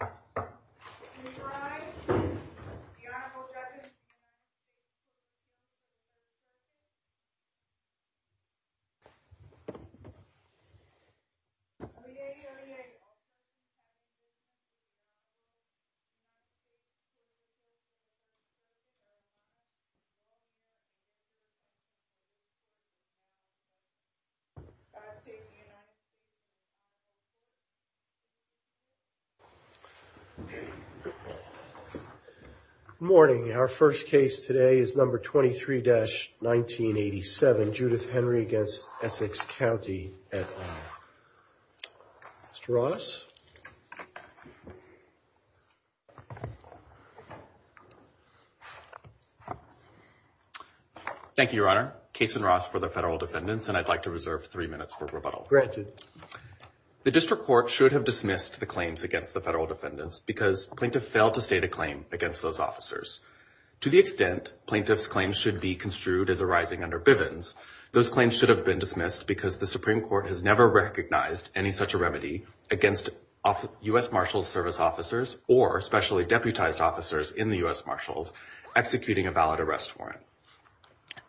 a. Good morning. Our first case today is number 23-1987, Judith Henry v. Essex County, et al., Mr. Ross. Thank you, Your Honor. Case in Ross for the federal defendants, and I'd like to reserve three minutes for rebuttal. Granted. The district court should have dismissed the claims against the federal defendants because plaintiff failed to state a claim against those officers. To the extent plaintiff's claims should be construed as arising under Bivens, those claims should have been dismissed because the Supreme Court has never recognized any such a remedy against U.S. Marshals Service officers or specially deputized officers in the U.S. Marshals executing a valid arrest warrant.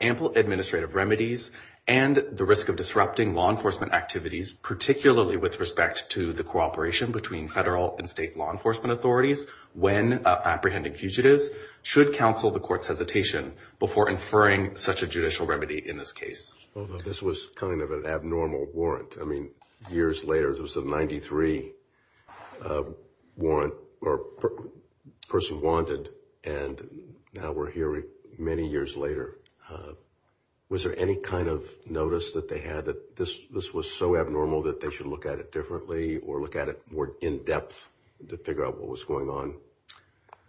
Ample administrative remedies and the risk of disrupting law enforcement activities, particularly with respect to the cooperation between federal and state law enforcement authorities when apprehending fugitives, should counsel the court's hesitation before inferring such a judicial remedy in this case. This was kind of an abnormal warrant. I mean, years later, there was a 93 person wanted, and now we're hearing many years later, was there any kind of notice that they had that this was so abnormal that they should look at it differently or look at it more in depth to figure out what was going on?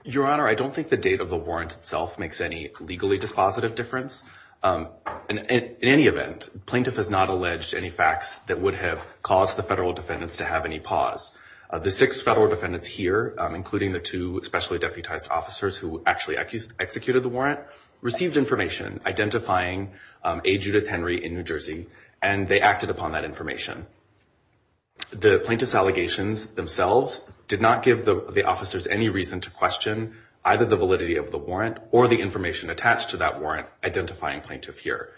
Your Honor, I don't think the date of the warrant itself makes any legally dispositive difference. In any event, plaintiff has not alleged any facts that would have caused the federal defendants to have any pause. The six federal defendants here, including the two specially deputized officers who actually executed the warrant, received information identifying a Judith Henry in New Jersey, and they acted upon that information. The plaintiff's allegations themselves did not give the officers any reason to question either the validity of the warrant or the information attached to that warrant identifying plaintiff here.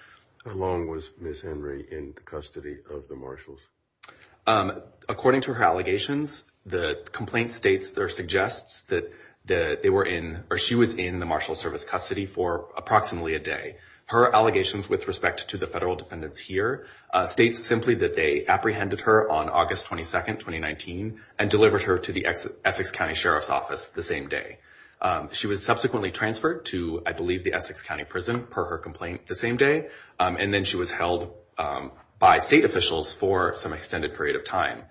How long was Ms. Henry in custody of the marshals? According to her allegations, the complaint states or suggests that they were in or she was in the marshal service custody for approximately a day. Her allegations with respect to the federal defendants here states simply that they apprehended her on August 22, 2019, and delivered her to the Essex County Sheriff's Office the same day. She was subsequently transferred to, I believe, the Essex County Prison, per her complaint, the same day, and then she was held by state officials for some extended period of time.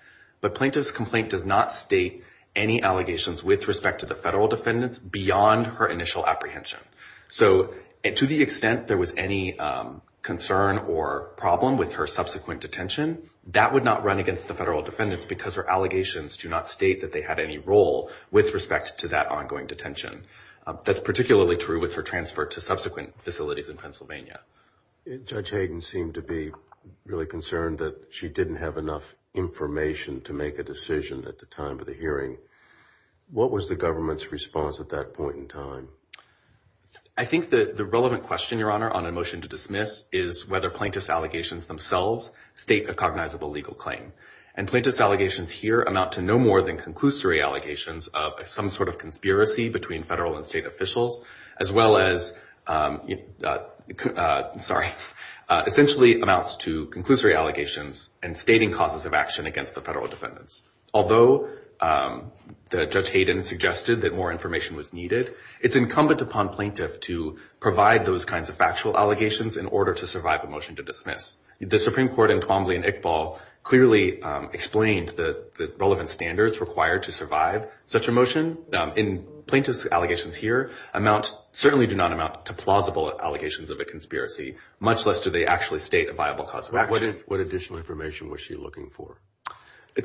But plaintiff's complaint does not state any allegations with respect to the federal defendants beyond her initial apprehension. So to the extent there was any concern or problem with her subsequent detention, that would not run against the federal defendants because her allegations do not state that they had any role with respect to that ongoing detention. That's particularly true with her transfer to subsequent facilities in Pennsylvania. Judge Hayden seemed to be really concerned that she didn't have enough information to make a decision at the time of the hearing. What was the government's response at that point in time? I think that the relevant question, Your Honor, on a motion to dismiss is whether plaintiff's allegations themselves state a cognizable legal claim. And plaintiff's allegations here amount to no more than conclusory allegations of some sort of conspiracy between federal and state officials, as well as, sorry, essentially amounts to conclusory allegations and stating causes of action against the federal defendants. Although Judge Hayden suggested that more information was needed, it's incumbent upon plaintiff to provide those kinds of factual allegations in order to survive a motion to dismiss. The Supreme Court in Twombly and Iqbal clearly explained the relevant standards required to survive such a motion. And plaintiff's allegations here amount, certainly do not amount to plausible allegations of a conspiracy, much less do they actually state a viable cause of action. What additional information was she looking for?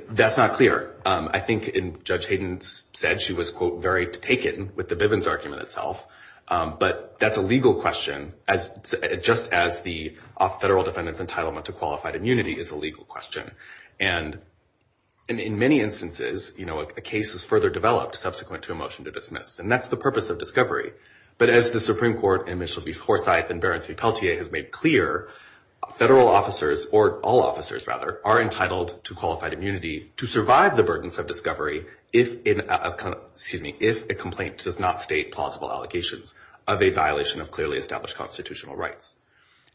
That's not clear. I think Judge Hayden said she was, quote, very taken with the Bivens argument itself. But that's a legal question, just as the federal defendant's entitlement to qualified immunity is a legal question. And in many instances, you know, a case is further developed subsequent to a motion to dismiss. And that's the purpose of discovery. But as the Supreme Court in Mitchell v. Forsyth and Behrens v. Pelletier has made clear, federal to survive the burdens of discovery if a complaint does not state plausible allegations of a violation of clearly established constitutional rights.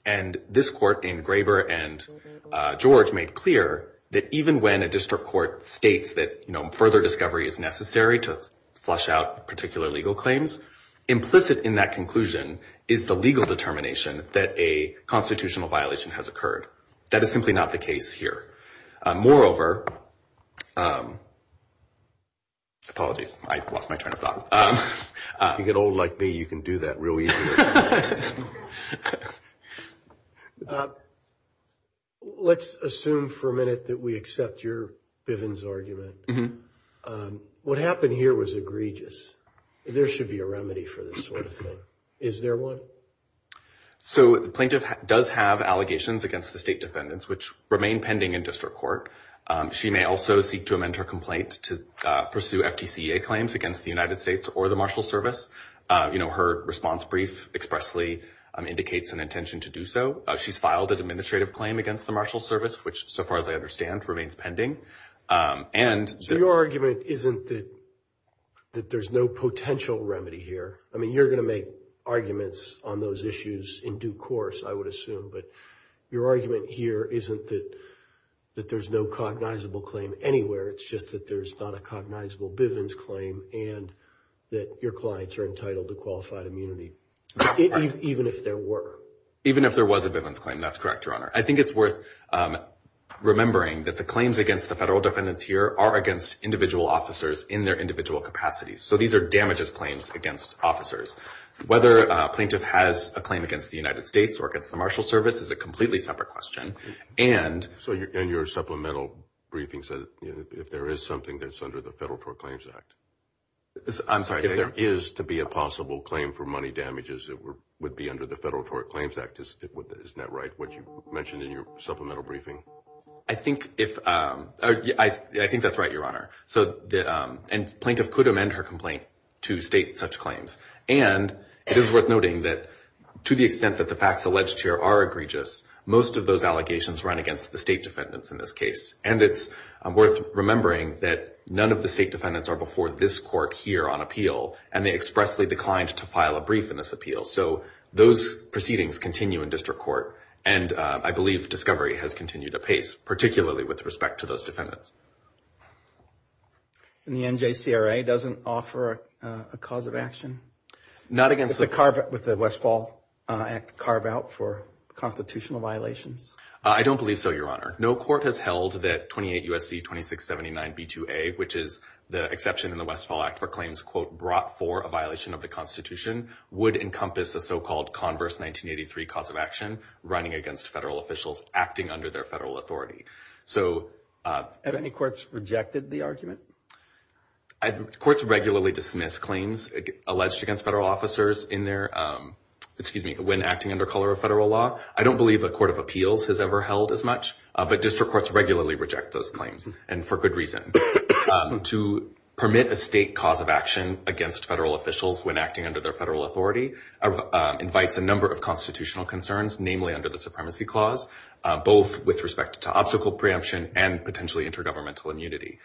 And this court in Graber and George made clear that even when a district court states that further discovery is necessary to flush out particular legal claims, implicit in that conclusion is the legal determination that a constitutional violation has occurred. That is simply not the case here. Moreover, apologies, I lost my train of thought. You get old like me, you can do that real easy. Let's assume for a minute that we accept your Bivens argument. What happened here was egregious. There should be a remedy for this sort of thing. Is there one? So the plaintiff does have allegations against the state defendants, which remain pending in district court. She may also seek to amend her complaint to pursue FTCA claims against the United States or the Marshals Service. You know, her response brief expressly indicates an intention to do so. She's filed an administrative claim against the Marshals Service, which so far as I understand, remains pending. And so your argument isn't that there's no potential remedy here. I mean, you're going to make arguments on those issues in due course, I would assume. But your argument here isn't that that there's no cognizable claim anywhere. It's just that there's not a cognizable Bivens claim and that your clients are entitled to qualified immunity, even if there were. Even if there was a Bivens claim, that's correct, Your Honor. I think it's worth remembering that the claims against the federal defendants here are against individual officers in their individual capacities. So these are damages claims against officers. Whether a plaintiff has a claim against the United States or against the Marshals Service is a completely separate question. And so your supplemental briefing said if there is something that's under the Federal Tort Claims Act. I'm sorry, if there is to be a possible claim for money damages that would be under the Federal Tort Claims Act, isn't that right? What you mentioned in your supplemental briefing? I think if I think that's right, Your Honor. So the plaintiff could amend her complaint to state such claims. And it is worth noting that to the extent that the facts alleged here are egregious, most of those allegations run against the state defendants in this case. And it's worth remembering that none of the state defendants are before this court here on appeal. And they expressly declined to file a brief in this appeal. So those proceedings continue in district court. And I believe discovery has continued apace, particularly with respect to those defendants. And the NJCRA doesn't offer a cause of action? Not against the Westfall Act carve out for constitutional violations? I don't believe so, Your Honor. No court has held that 28 U.S.C. 2679 B2A, which is the exception in the Westfall Act for claims, quote, brought for a violation of the Constitution, would encompass a so-called converse 1983 cause of action running against federal officials acting under their federal authority. So have any courts rejected the argument? Courts regularly dismiss claims alleged against federal officers in their excuse me, when acting under color of federal law. I don't believe a court of appeals has ever held as much, but district courts regularly reject those claims. And for good reason, to permit a state cause of action against federal officials when acting under their federal authority invites a number of difficult preemption and potentially intergovernmental immunity.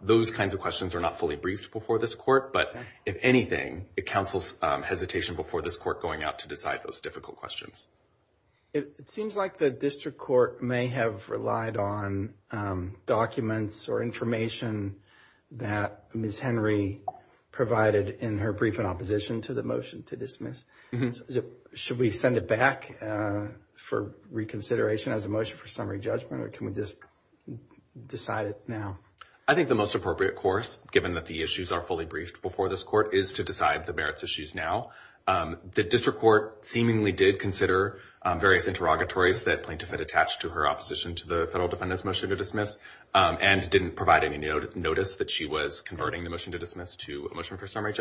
Those kinds of questions are not fully briefed before this court, but if anything, it counsels hesitation before this court going out to decide those difficult questions. It seems like the district court may have relied on documents or information that Ms. Henry provided in her brief in opposition to the motion to dismiss. Should we send it back for reconsideration as a motion for summary judgment or can we just decide it now? I think the most appropriate course, given that the issues are fully briefed before this court, is to decide the merits issues now. The district court seemingly did consider various interrogatories that plaintiff had attached to her opposition to the federal defendant's motion to dismiss and didn't provide any notice that she was converting the motion to dismiss to a motion for summary.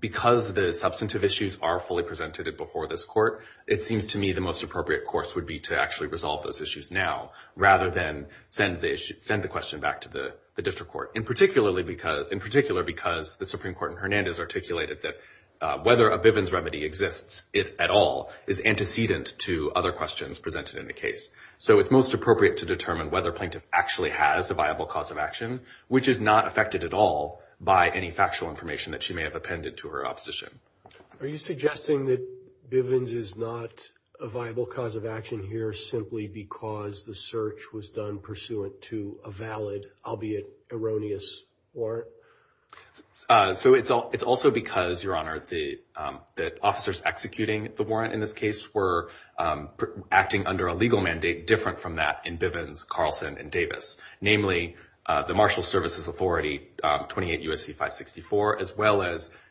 Because the substantive issues are fully presented before this court, it seems to me the most appropriate course would be to actually resolve those issues now rather than send the issue, send the question back to the district court. In particular, because the Supreme Court in Hernandez articulated that whether a Bivens remedy exists at all is antecedent to other questions presented in the case. So it's most appropriate to determine whether plaintiff actually has a viable cause of action, which is not affected at all by any factual information that she may have appended to her opposition. Are you suggesting that Bivens is not a viable cause of action here simply because the search was done pursuant to a valid, albeit erroneous, warrant? So it's all it's also because, Your Honor, that officers executing the warrant in this case were acting under a legal mandate different from that in Bivens, Carlson and Bivens,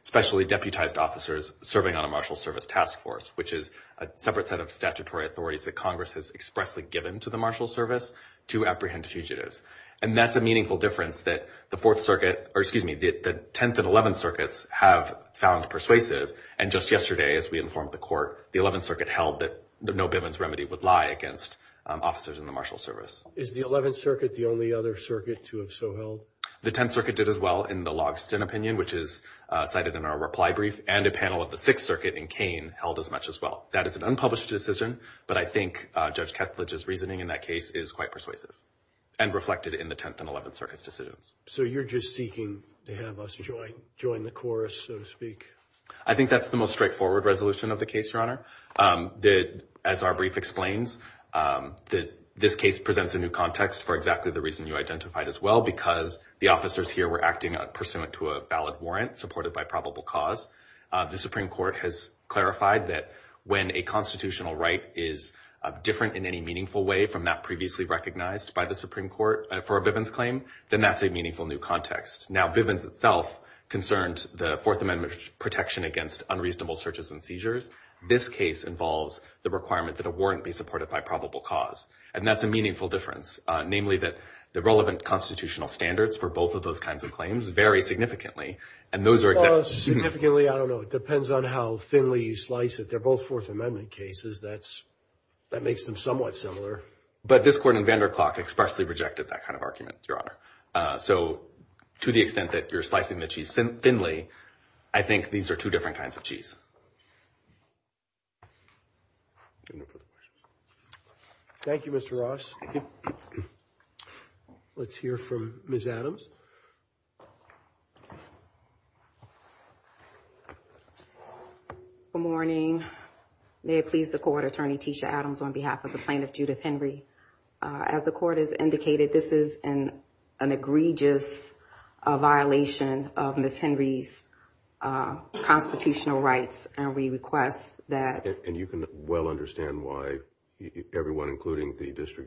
especially deputized officers serving on a marshal service task force, which is a separate set of statutory authorities that Congress has expressly given to the marshal service to apprehend fugitives. And that's a meaningful difference that the Fourth Circuit, or excuse me, the Tenth and Eleventh Circuits have found persuasive. And just yesterday, as we informed the court, the Eleventh Circuit held that no Bivens remedy would lie against officers in the marshal service. Is the Eleventh Circuit the only other circuit to have so held? The Tenth Circuit did as well in the Logston opinion, which is cited in our reply brief, and a panel of the Sixth Circuit in Kane held as much as well. That is an unpublished decision, but I think Judge Ketledge's reasoning in that case is quite persuasive and reflected in the Tenth and Eleventh Circuit's decisions. So you're just seeking to have us join the chorus, so to speak? I think that's the most straightforward resolution of the case, Your Honor. As our brief explains, this case presents a new context for exactly the reason you asked. The officers here were acting pursuant to a valid warrant supported by probable cause. The Supreme Court has clarified that when a constitutional right is different in any meaningful way from that previously recognized by the Supreme Court for a Bivens claim, then that's a meaningful new context. Now, Bivens itself concerned the Fourth Amendment protection against unreasonable searches and seizures. This case involves the requirement that a warrant be supported by probable cause. And that's a meaningful difference, namely that the relevant constitutional standards for both of those kinds of claims vary significantly, and those are exactly... Significantly, I don't know. It depends on how thinly you slice it. They're both Fourth Amendment cases. That makes them somewhat similar. But this court in Vanderklok expressly rejected that kind of argument, Your Honor. So to the extent that you're slicing the cheese thinly, I think these are two different kinds of cheese. Thank you, Mr. Ross. Thank you. Let's hear from Ms. Adams. Good morning. May it please the court, Attorney Tisha Adams, on behalf of the plaintiff, Judith Henry. As the court has indicated, this is an egregious violation of Ms. Henry's constitutional rights. And we request that... The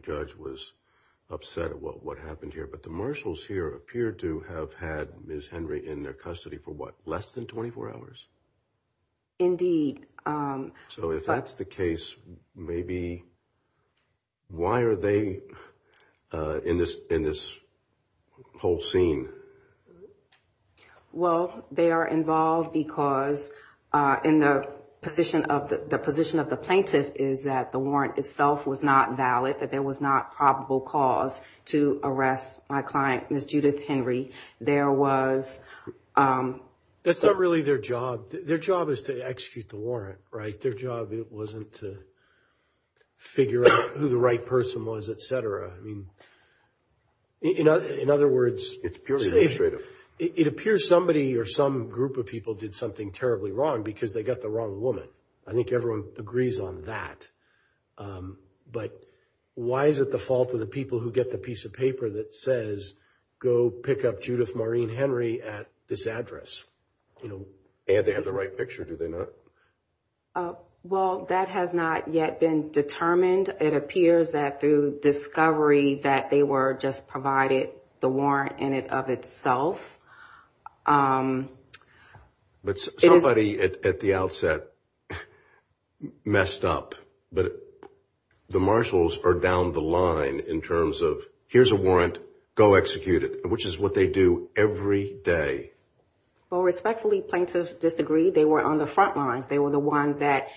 judge was upset at what happened here, but the marshals here appeared to have had Ms. Henry in their custody for what, less than 24 hours? Indeed. So if that's the case, maybe why are they in this whole scene? Well, they are involved because the position of the plaintiff is that the warrant itself was not valid, that there was not probable cause to arrest my client, Ms. Judith Henry. There was... That's not really their job. Their job is to execute the warrant, right? Their job wasn't to figure out who the right person was, et cetera. I mean, you know, in other words, it appears somebody or some group of people did something terribly wrong because they got the wrong woman. I think everyone agrees on that. But why is it the fault of the people who get the piece of paper that says, go pick up Judith Maureen Henry at this address? And they have the right picture, do they not? Well, that has not yet been determined. It appears that through discovery that they were just provided the warrant in it of itself. But somebody at the outset messed up, but the marshals are down the line in terms of here's a warrant, go execute it, which is what they do every day. Well, respectfully, plaintiffs disagree. They were on the front lines. They were the ones that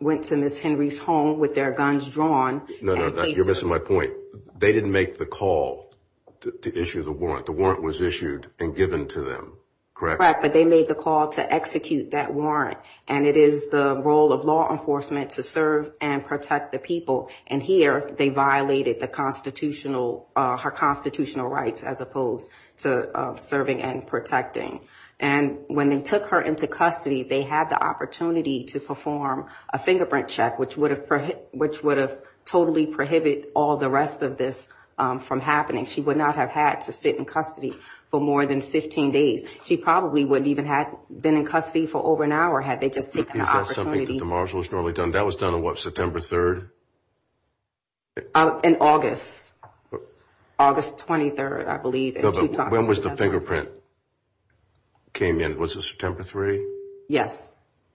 went to Ms. Henry's home with their guns drawn. No, no, you're missing my point. They didn't make the call to issue the warrant. The warrant was issued and given to them, correct? But they made the call to execute that warrant. And it is the role of law enforcement to serve and protect the people. And here they violated the constitutional, her constitutional rights as opposed to serving and protecting. And when they took her into custody, they had the opportunity to perform a fingerprint check, which would have totally prohibit all the rest of this from happening. She would not have had to sit in custody for more than 15 days. She probably wouldn't even had been in custody for over an hour had they just taken the opportunity. Is that something that the marshals normally done? That was done on what, September 3rd? In August, August 23rd, I believe. When was the fingerprint came in? Was it September 3rd? Yes.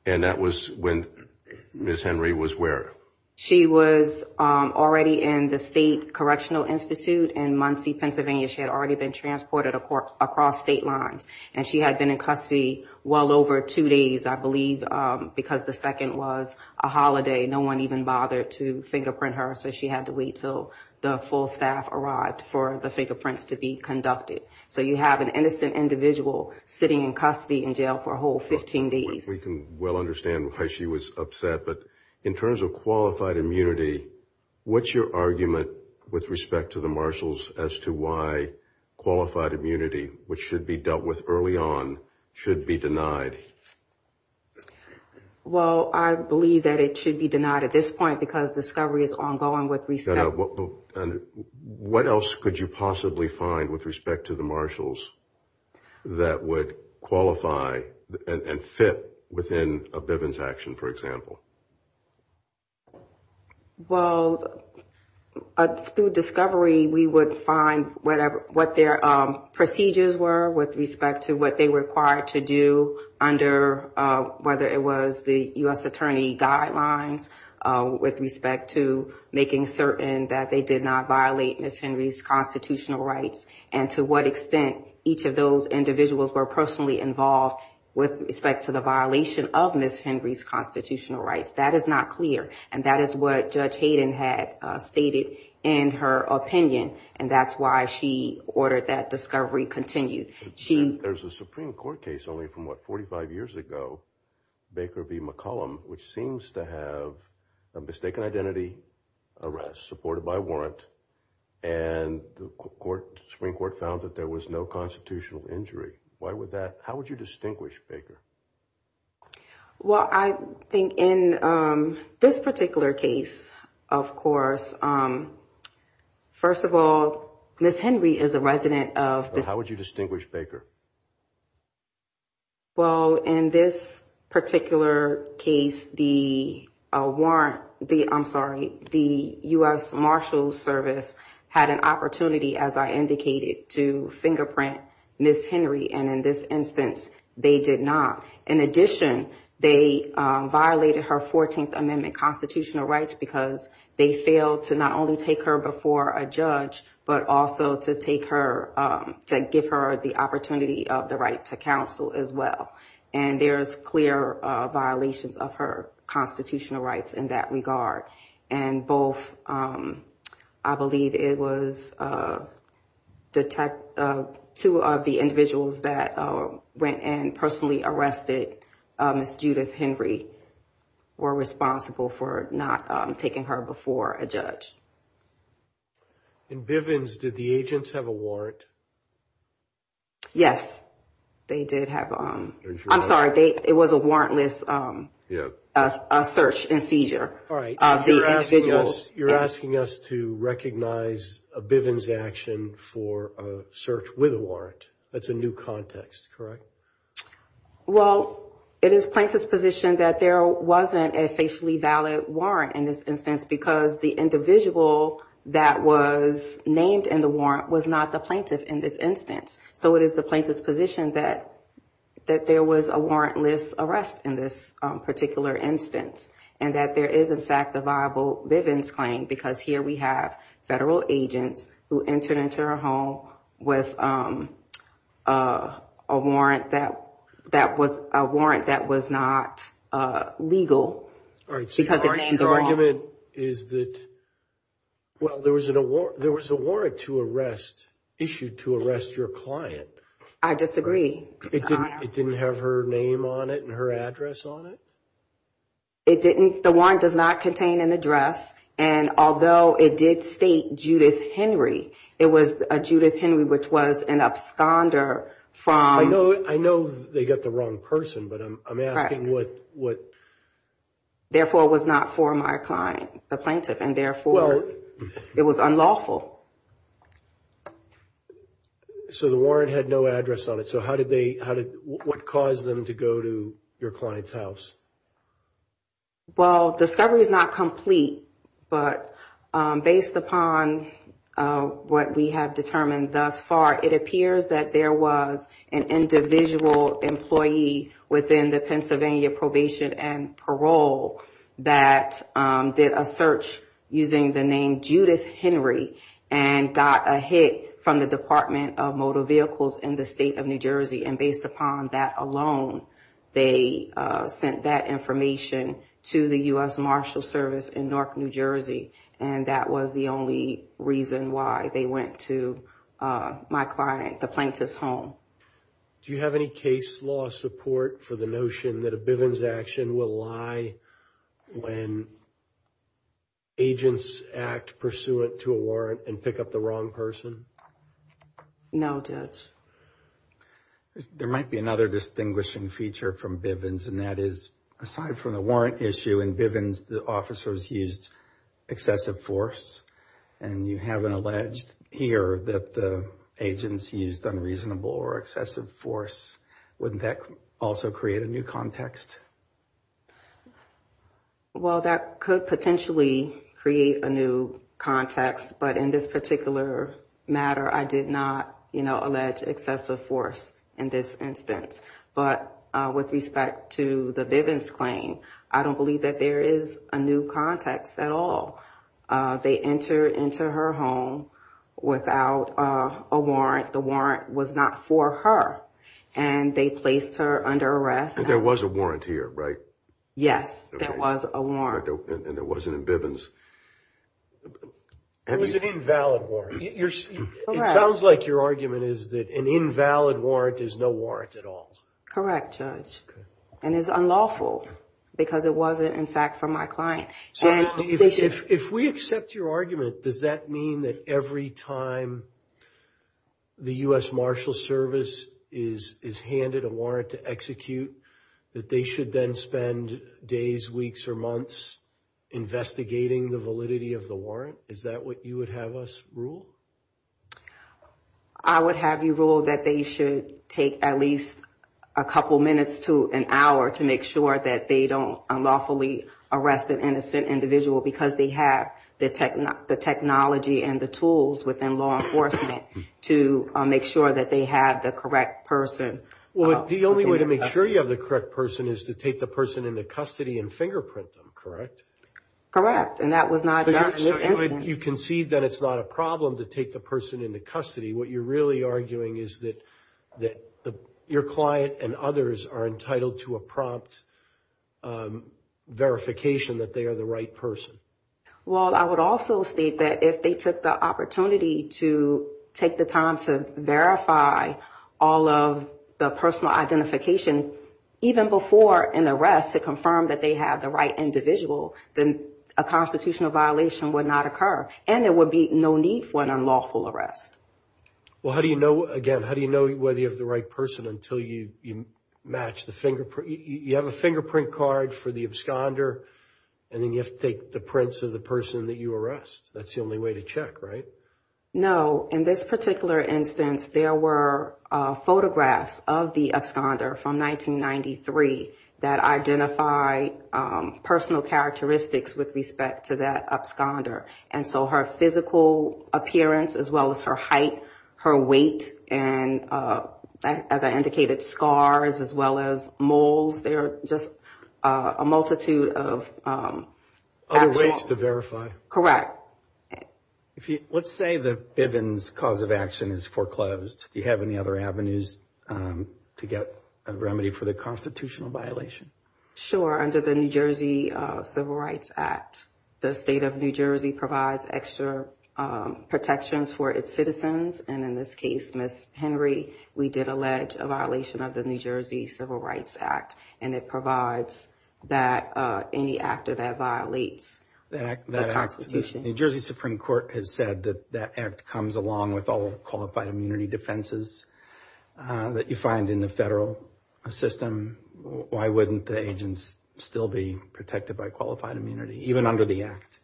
And that was when Ms. Henry was where? She was already in the State Correctional Institute in Muncie, Pennsylvania. She had already been transported across state lines and she had been in custody well over two days, I believe, because the second was a holiday. No one even bothered to fingerprint her. So she had to wait till the full staff arrived for the fingerprints to be conducted. So you have an innocent individual sitting in custody in jail for a whole 15 days. We can well understand why she was upset, but in terms of qualified immunity, what's your argument with respect to the marshals as to why qualified immunity, which should be dealt with early on, should be denied? Well, I believe that it should be denied at this point because discovery is ongoing with respect. And what else could you possibly find with respect to the marshals that would qualify and fit within a Bivens action, for example? Well, through discovery, we would find whatever what their procedures were with respect to what they were required to do under whether it was the U.S. Attorney guidelines with respect to making certain that they did not violate Ms. Henry's constitutional rights and to what extent each of those individuals were personally involved with respect to the violation of Ms. Henry's constitutional rights. That is not clear. And that is what Judge Hayden had stated in her opinion. And that's why she ordered that discovery continued. There's a Supreme Court case only from what, 45 years ago, Baker v. McCollum, which seems to have a mistaken identity arrest supported by warrant. And the Supreme Court found that there was no constitutional injury. Why would that? How would you distinguish, Baker? Well, I think in this particular case, of course, first of all, Ms. Henry is a resident of this. How would you distinguish, Baker? Well, in this particular case, the warrant, the I'm sorry, the U.S. and in this instance, they did not. In addition, they violated her 14th Amendment constitutional rights because they failed to not only take her before a judge, but also to take her to give her the opportunity of the right to counsel as well. And there is clear violations of her constitutional rights in that regard. And both, I believe it was two of the individuals that went and personally arrested Ms. Judith Henry were responsible for not taking her before a judge. In Bivens, did the agents have a warrant? Yes, they did have. I'm sorry, it was a warrantless search and seizure. All right, you're asking us to recognize a Bivens action for a search with a warrant. That's a new context, correct? Well, it is plaintiff's position that there wasn't a facially valid warrant in this instance because the individual that was named in the warrant was not the plaintiff in this instance. So it is the plaintiff's position that there was a warrantless arrest in this particular instance and that there is, in fact, a viable Bivens claim because here we have federal agents who entered into her home with a warrant that was not legal because it named her wrong. My argument is that, well, there was a warrant to arrest, issued to arrest your client. I disagree. It didn't have her name on it and her address on it? It didn't, the warrant does not contain an address. And although it did state Judith Henry, it was a Judith Henry, which was an absconder from... I know, I know they got the wrong person, but I'm asking what... The plaintiff and therefore it was unlawful. So the warrant had no address on it. So how did they, how did, what caused them to go to your client's house? Well, discovery is not complete, but based upon what we have determined thus far, it appears that there was an individual employee within the Pennsylvania probation and parole that did a search using the name Judith Henry and got a hit from the Department of Motor Vehicles in the state of New Jersey. And based upon that alone, they sent that information to the U.S. Marshal Service in Newark, New Jersey. And that was the only reason why they went to my client, the plaintiff's home. Do you have any case law support for the notion that a Bivens action will lie when agents act pursuant to a warrant and pick up the wrong person? No, Judge. There might be another distinguishing feature from Bivens, and that is, aside from the warrant issue in Bivens, the officers used excessive force. And you haven't alleged here that the agents used unreasonable or excessive force. Wouldn't that also create a new context? Well, that could potentially create a new context, but in this particular matter, I did not, you know, allege excessive force in this instance. But with respect to the Bivens claim, I don't believe that there is a new context at all. They entered into her home without a warrant. The warrant was not for her, and they placed her under arrest. And there was a warrant here, right? Yes, there was a warrant. And it wasn't in Bivens. It was an invalid warrant. It sounds like your argument is that an invalid warrant is no warrant at all. Correct, Judge. And it's unlawful because it wasn't, in fact, for my client. So if we accept your argument, does that mean that every time the U.S. Marshals Service is handed a warrant to execute, that they should then spend days, weeks, or months investigating the validity of the warrant? Is that what you would have us rule? I would have you rule that they should take at least a couple minutes to an hour to make sure that they don't unlawfully arrest an innocent individual because they have the technology and the tools within law enforcement to make sure that they have the correct person. Well, the only way to make sure you have the correct person is to take the person into custody and fingerprint them, correct? Correct. And that was not done in this instance. You concede that it's not a problem to take the person into custody. What you're really arguing is that that your client and others are entitled to a prompt verification that they are the right person. Well, I would also state that if they took the opportunity to take the time to verify all of the personal identification, even before an arrest to confirm that they have the right individual, then a constitutional violation would not occur and there would be no need for an unlawful arrest. Well, how do you know, again, how do you know whether you have the right person until you match the fingerprint? You have a fingerprint card for the absconder and then you have to take the prints of the person that you arrest. That's the only way to check, right? No. In this particular instance, there were photographs of the absconder from 1993 that identify personal characteristics with respect to that absconder. And so her physical appearance, as well as her height, her weight, and as I indicated, scars, as well as moles. There are just a multitude of ways to verify. Correct. Let's say the Bivens cause of action is foreclosed. Do you have any other avenues to get a remedy for the constitutional violation? Sure. Under the New Jersey Civil Rights Act, the state of New Jersey provides extra protections for its citizens. And in this case, Ms. Henry, we did allege a violation of the New Jersey Civil Rights Act. And it provides that any actor that violates the Constitution. The New Jersey Supreme Court has said that that act comes along with all qualified immunity defenses that you find in the federal system. Why wouldn't the agents still be protected by qualified immunity, even under the act?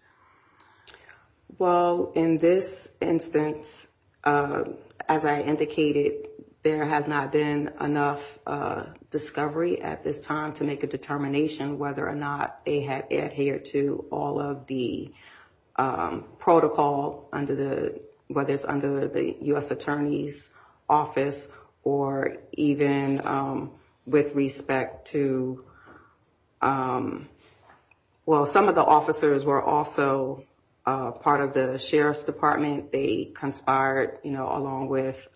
Well, in this instance, as I indicated, there has not been enough discovery at this time to make a determination whether or not they have adhered to all of the protocol under the, whether it's under the U.S. Attorney's Office or even with respect to, well, some of the officers were also part of the Sheriff's Department. They conspired, you know, along with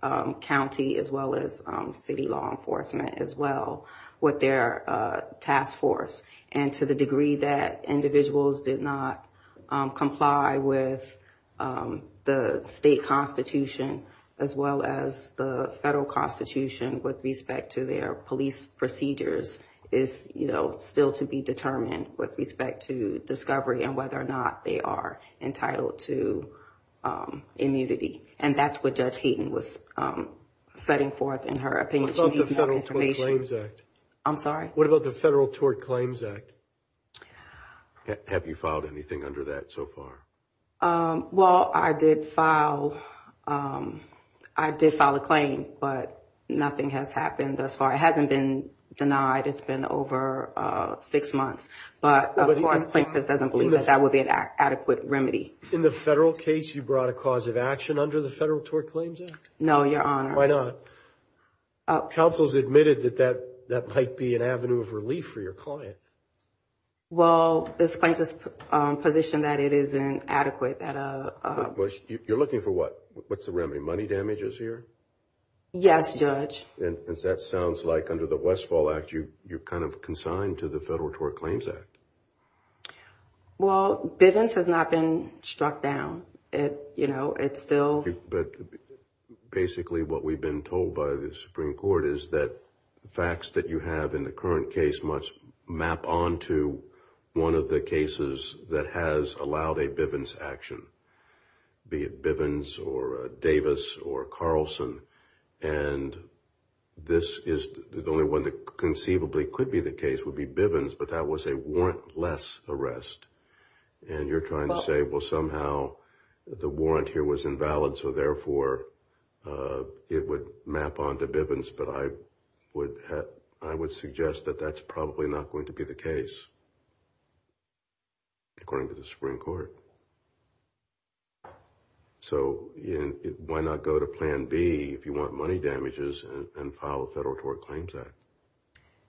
county as well as city law enforcement as well with their task force. And to the degree that individuals did not comply with the state constitution as well as the federal constitution with respect to their police procedures is, you know, still to be determined with respect to discovery and whether or not they are entitled to immunity. And that's what Judge Hayden was setting forth in her opinion. What about the Federal Tort Claims Act? I'm sorry? What about the Federal Tort Claims Act? Have you filed anything under that so far? Well, I did file, I did file a claim, but nothing has happened thus far. It hasn't been denied. It's been over six months, but of course, Plaintiff doesn't believe that that would be an adequate remedy. In the federal case, you brought a cause of action under the Federal Tort Claims Act? No, Your Honor. Why not? Counsel's admitted that that that might be an avenue of relief for your client. Well, this plaintiff's position that it isn't adequate. You're looking for what? What's the remedy? Money damages here? Yes, Judge. And that sounds like under the Westfall Act, you're kind of consigned to the Federal Tort Claims Act. Well, Bivens has not been struck down. You know, it's still... But basically, what we've been told by the Supreme Court is that the facts that you have in the current case must map onto one of the cases that has allowed a Bivens action, be it Bivens or Davis or Carlson. And this is the only one that conceivably could be the case would be Bivens. But that was a warrantless arrest. And you're trying to say, well, somehow the warrant here was invalid, so therefore it would map onto Bivens. But I would I would suggest that that's probably not going to be the case. According to the Supreme Court. So why not go to Plan B if you want money damages and file a Federal Tort Claims Act?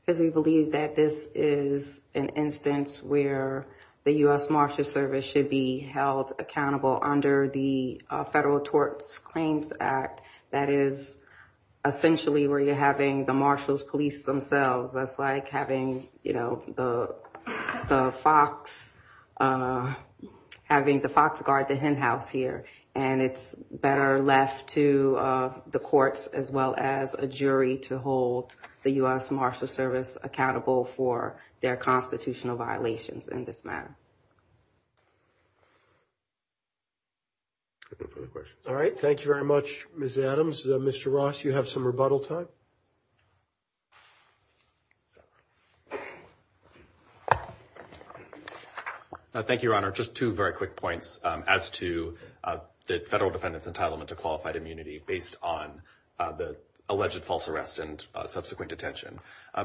Because we believe that this is an instance where the U.S. Marshals Service should be held accountable under the Federal Tort Claims Act. That is essentially where you're having the marshals police themselves. That's like having, you know, the Fox, having the Fox guard the hen house here. And it's better left to the courts as well as a jury to hold the U.S. Marshals Service accountable for their constitutional violations in this matter. All right. Thank you very much, Ms. Adams. Mr. Ross, you have some rebuttal time. Thank you, Your Honor. Just two very quick points as to the federal defendant's entitlement to qualified immunity based on the alleged false arrest and subsequent detention.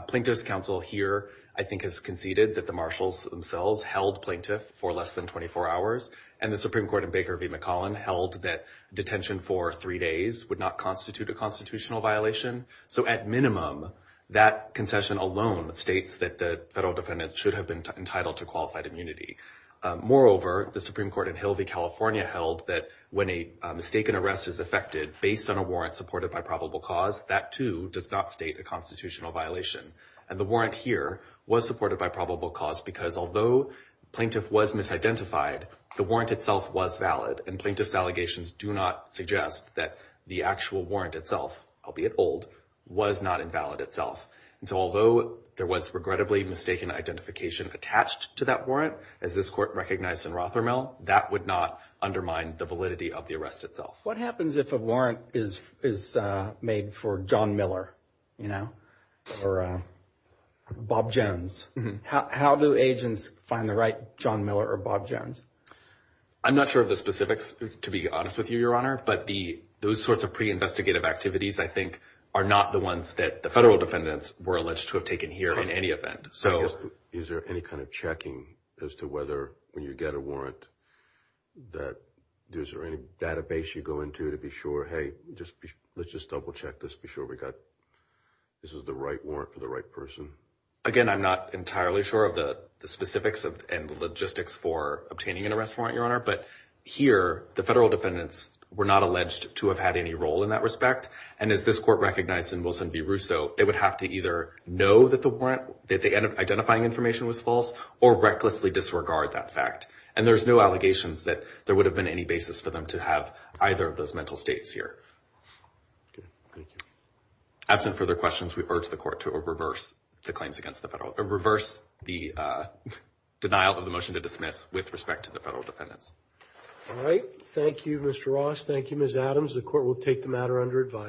Plaintiff's counsel here, I think, has conceded that the marshals themselves held plaintiff for less than 24 hours and the Supreme Court in Baker v. McCollum held that detention for three days would not constitute a constitutional violation. So at minimum, that concession alone states that the federal defendant should have been entitled to qualified immunity. Moreover, the Supreme Court in Hill v. California held that when a mistaken arrest is affected based on a warrant supported by probable cause, that, too, does not state a constitutional violation. And the warrant here was supported by probable cause because although plaintiff was misidentified, the warrant itself was valid. And plaintiff's allegations do not suggest that the actual warrant itself, albeit old, was not invalid itself. And so although there was regrettably mistaken identification attached to that warrant, as this court recognized in Rothermel, that would not undermine the validity of the arrest itself. What happens if a warrant is made for John Miller, you know, or Bob Jones? How do agents find the right John Miller or Bob Jones? I'm not sure of the specifics, to be honest with you, Your Honor, but the those sorts of pre-investigative activities, I think, are not the ones that the federal defendants were alleged to have taken here in any event. So is there any kind of checking as to whether when you get a warrant that there's any database you go into to be sure? Hey, just let's just double check this. Be sure we got this is the right warrant for the right person. Again, I'm not entirely sure of the specifics and logistics for obtaining an arrest warrant, Your Honor, but here the federal defendants were not alleged to have had any role in that respect. And as this court recognized in Wilson v. Russo, they would have to either know that the warrant that they end up identifying information was false or recklessly disregard that fact. And there's no allegations that there would have been any basis for them to have either of those mental states here. OK, thank you. Absent further questions, we urge the court to reverse the claims against the federal or reverse the denial of the motion to dismiss with respect to the federal defendants. All right. Thank you, Mr. Ross. Thank you, Ms. Adams. The court will take the matter under advisory.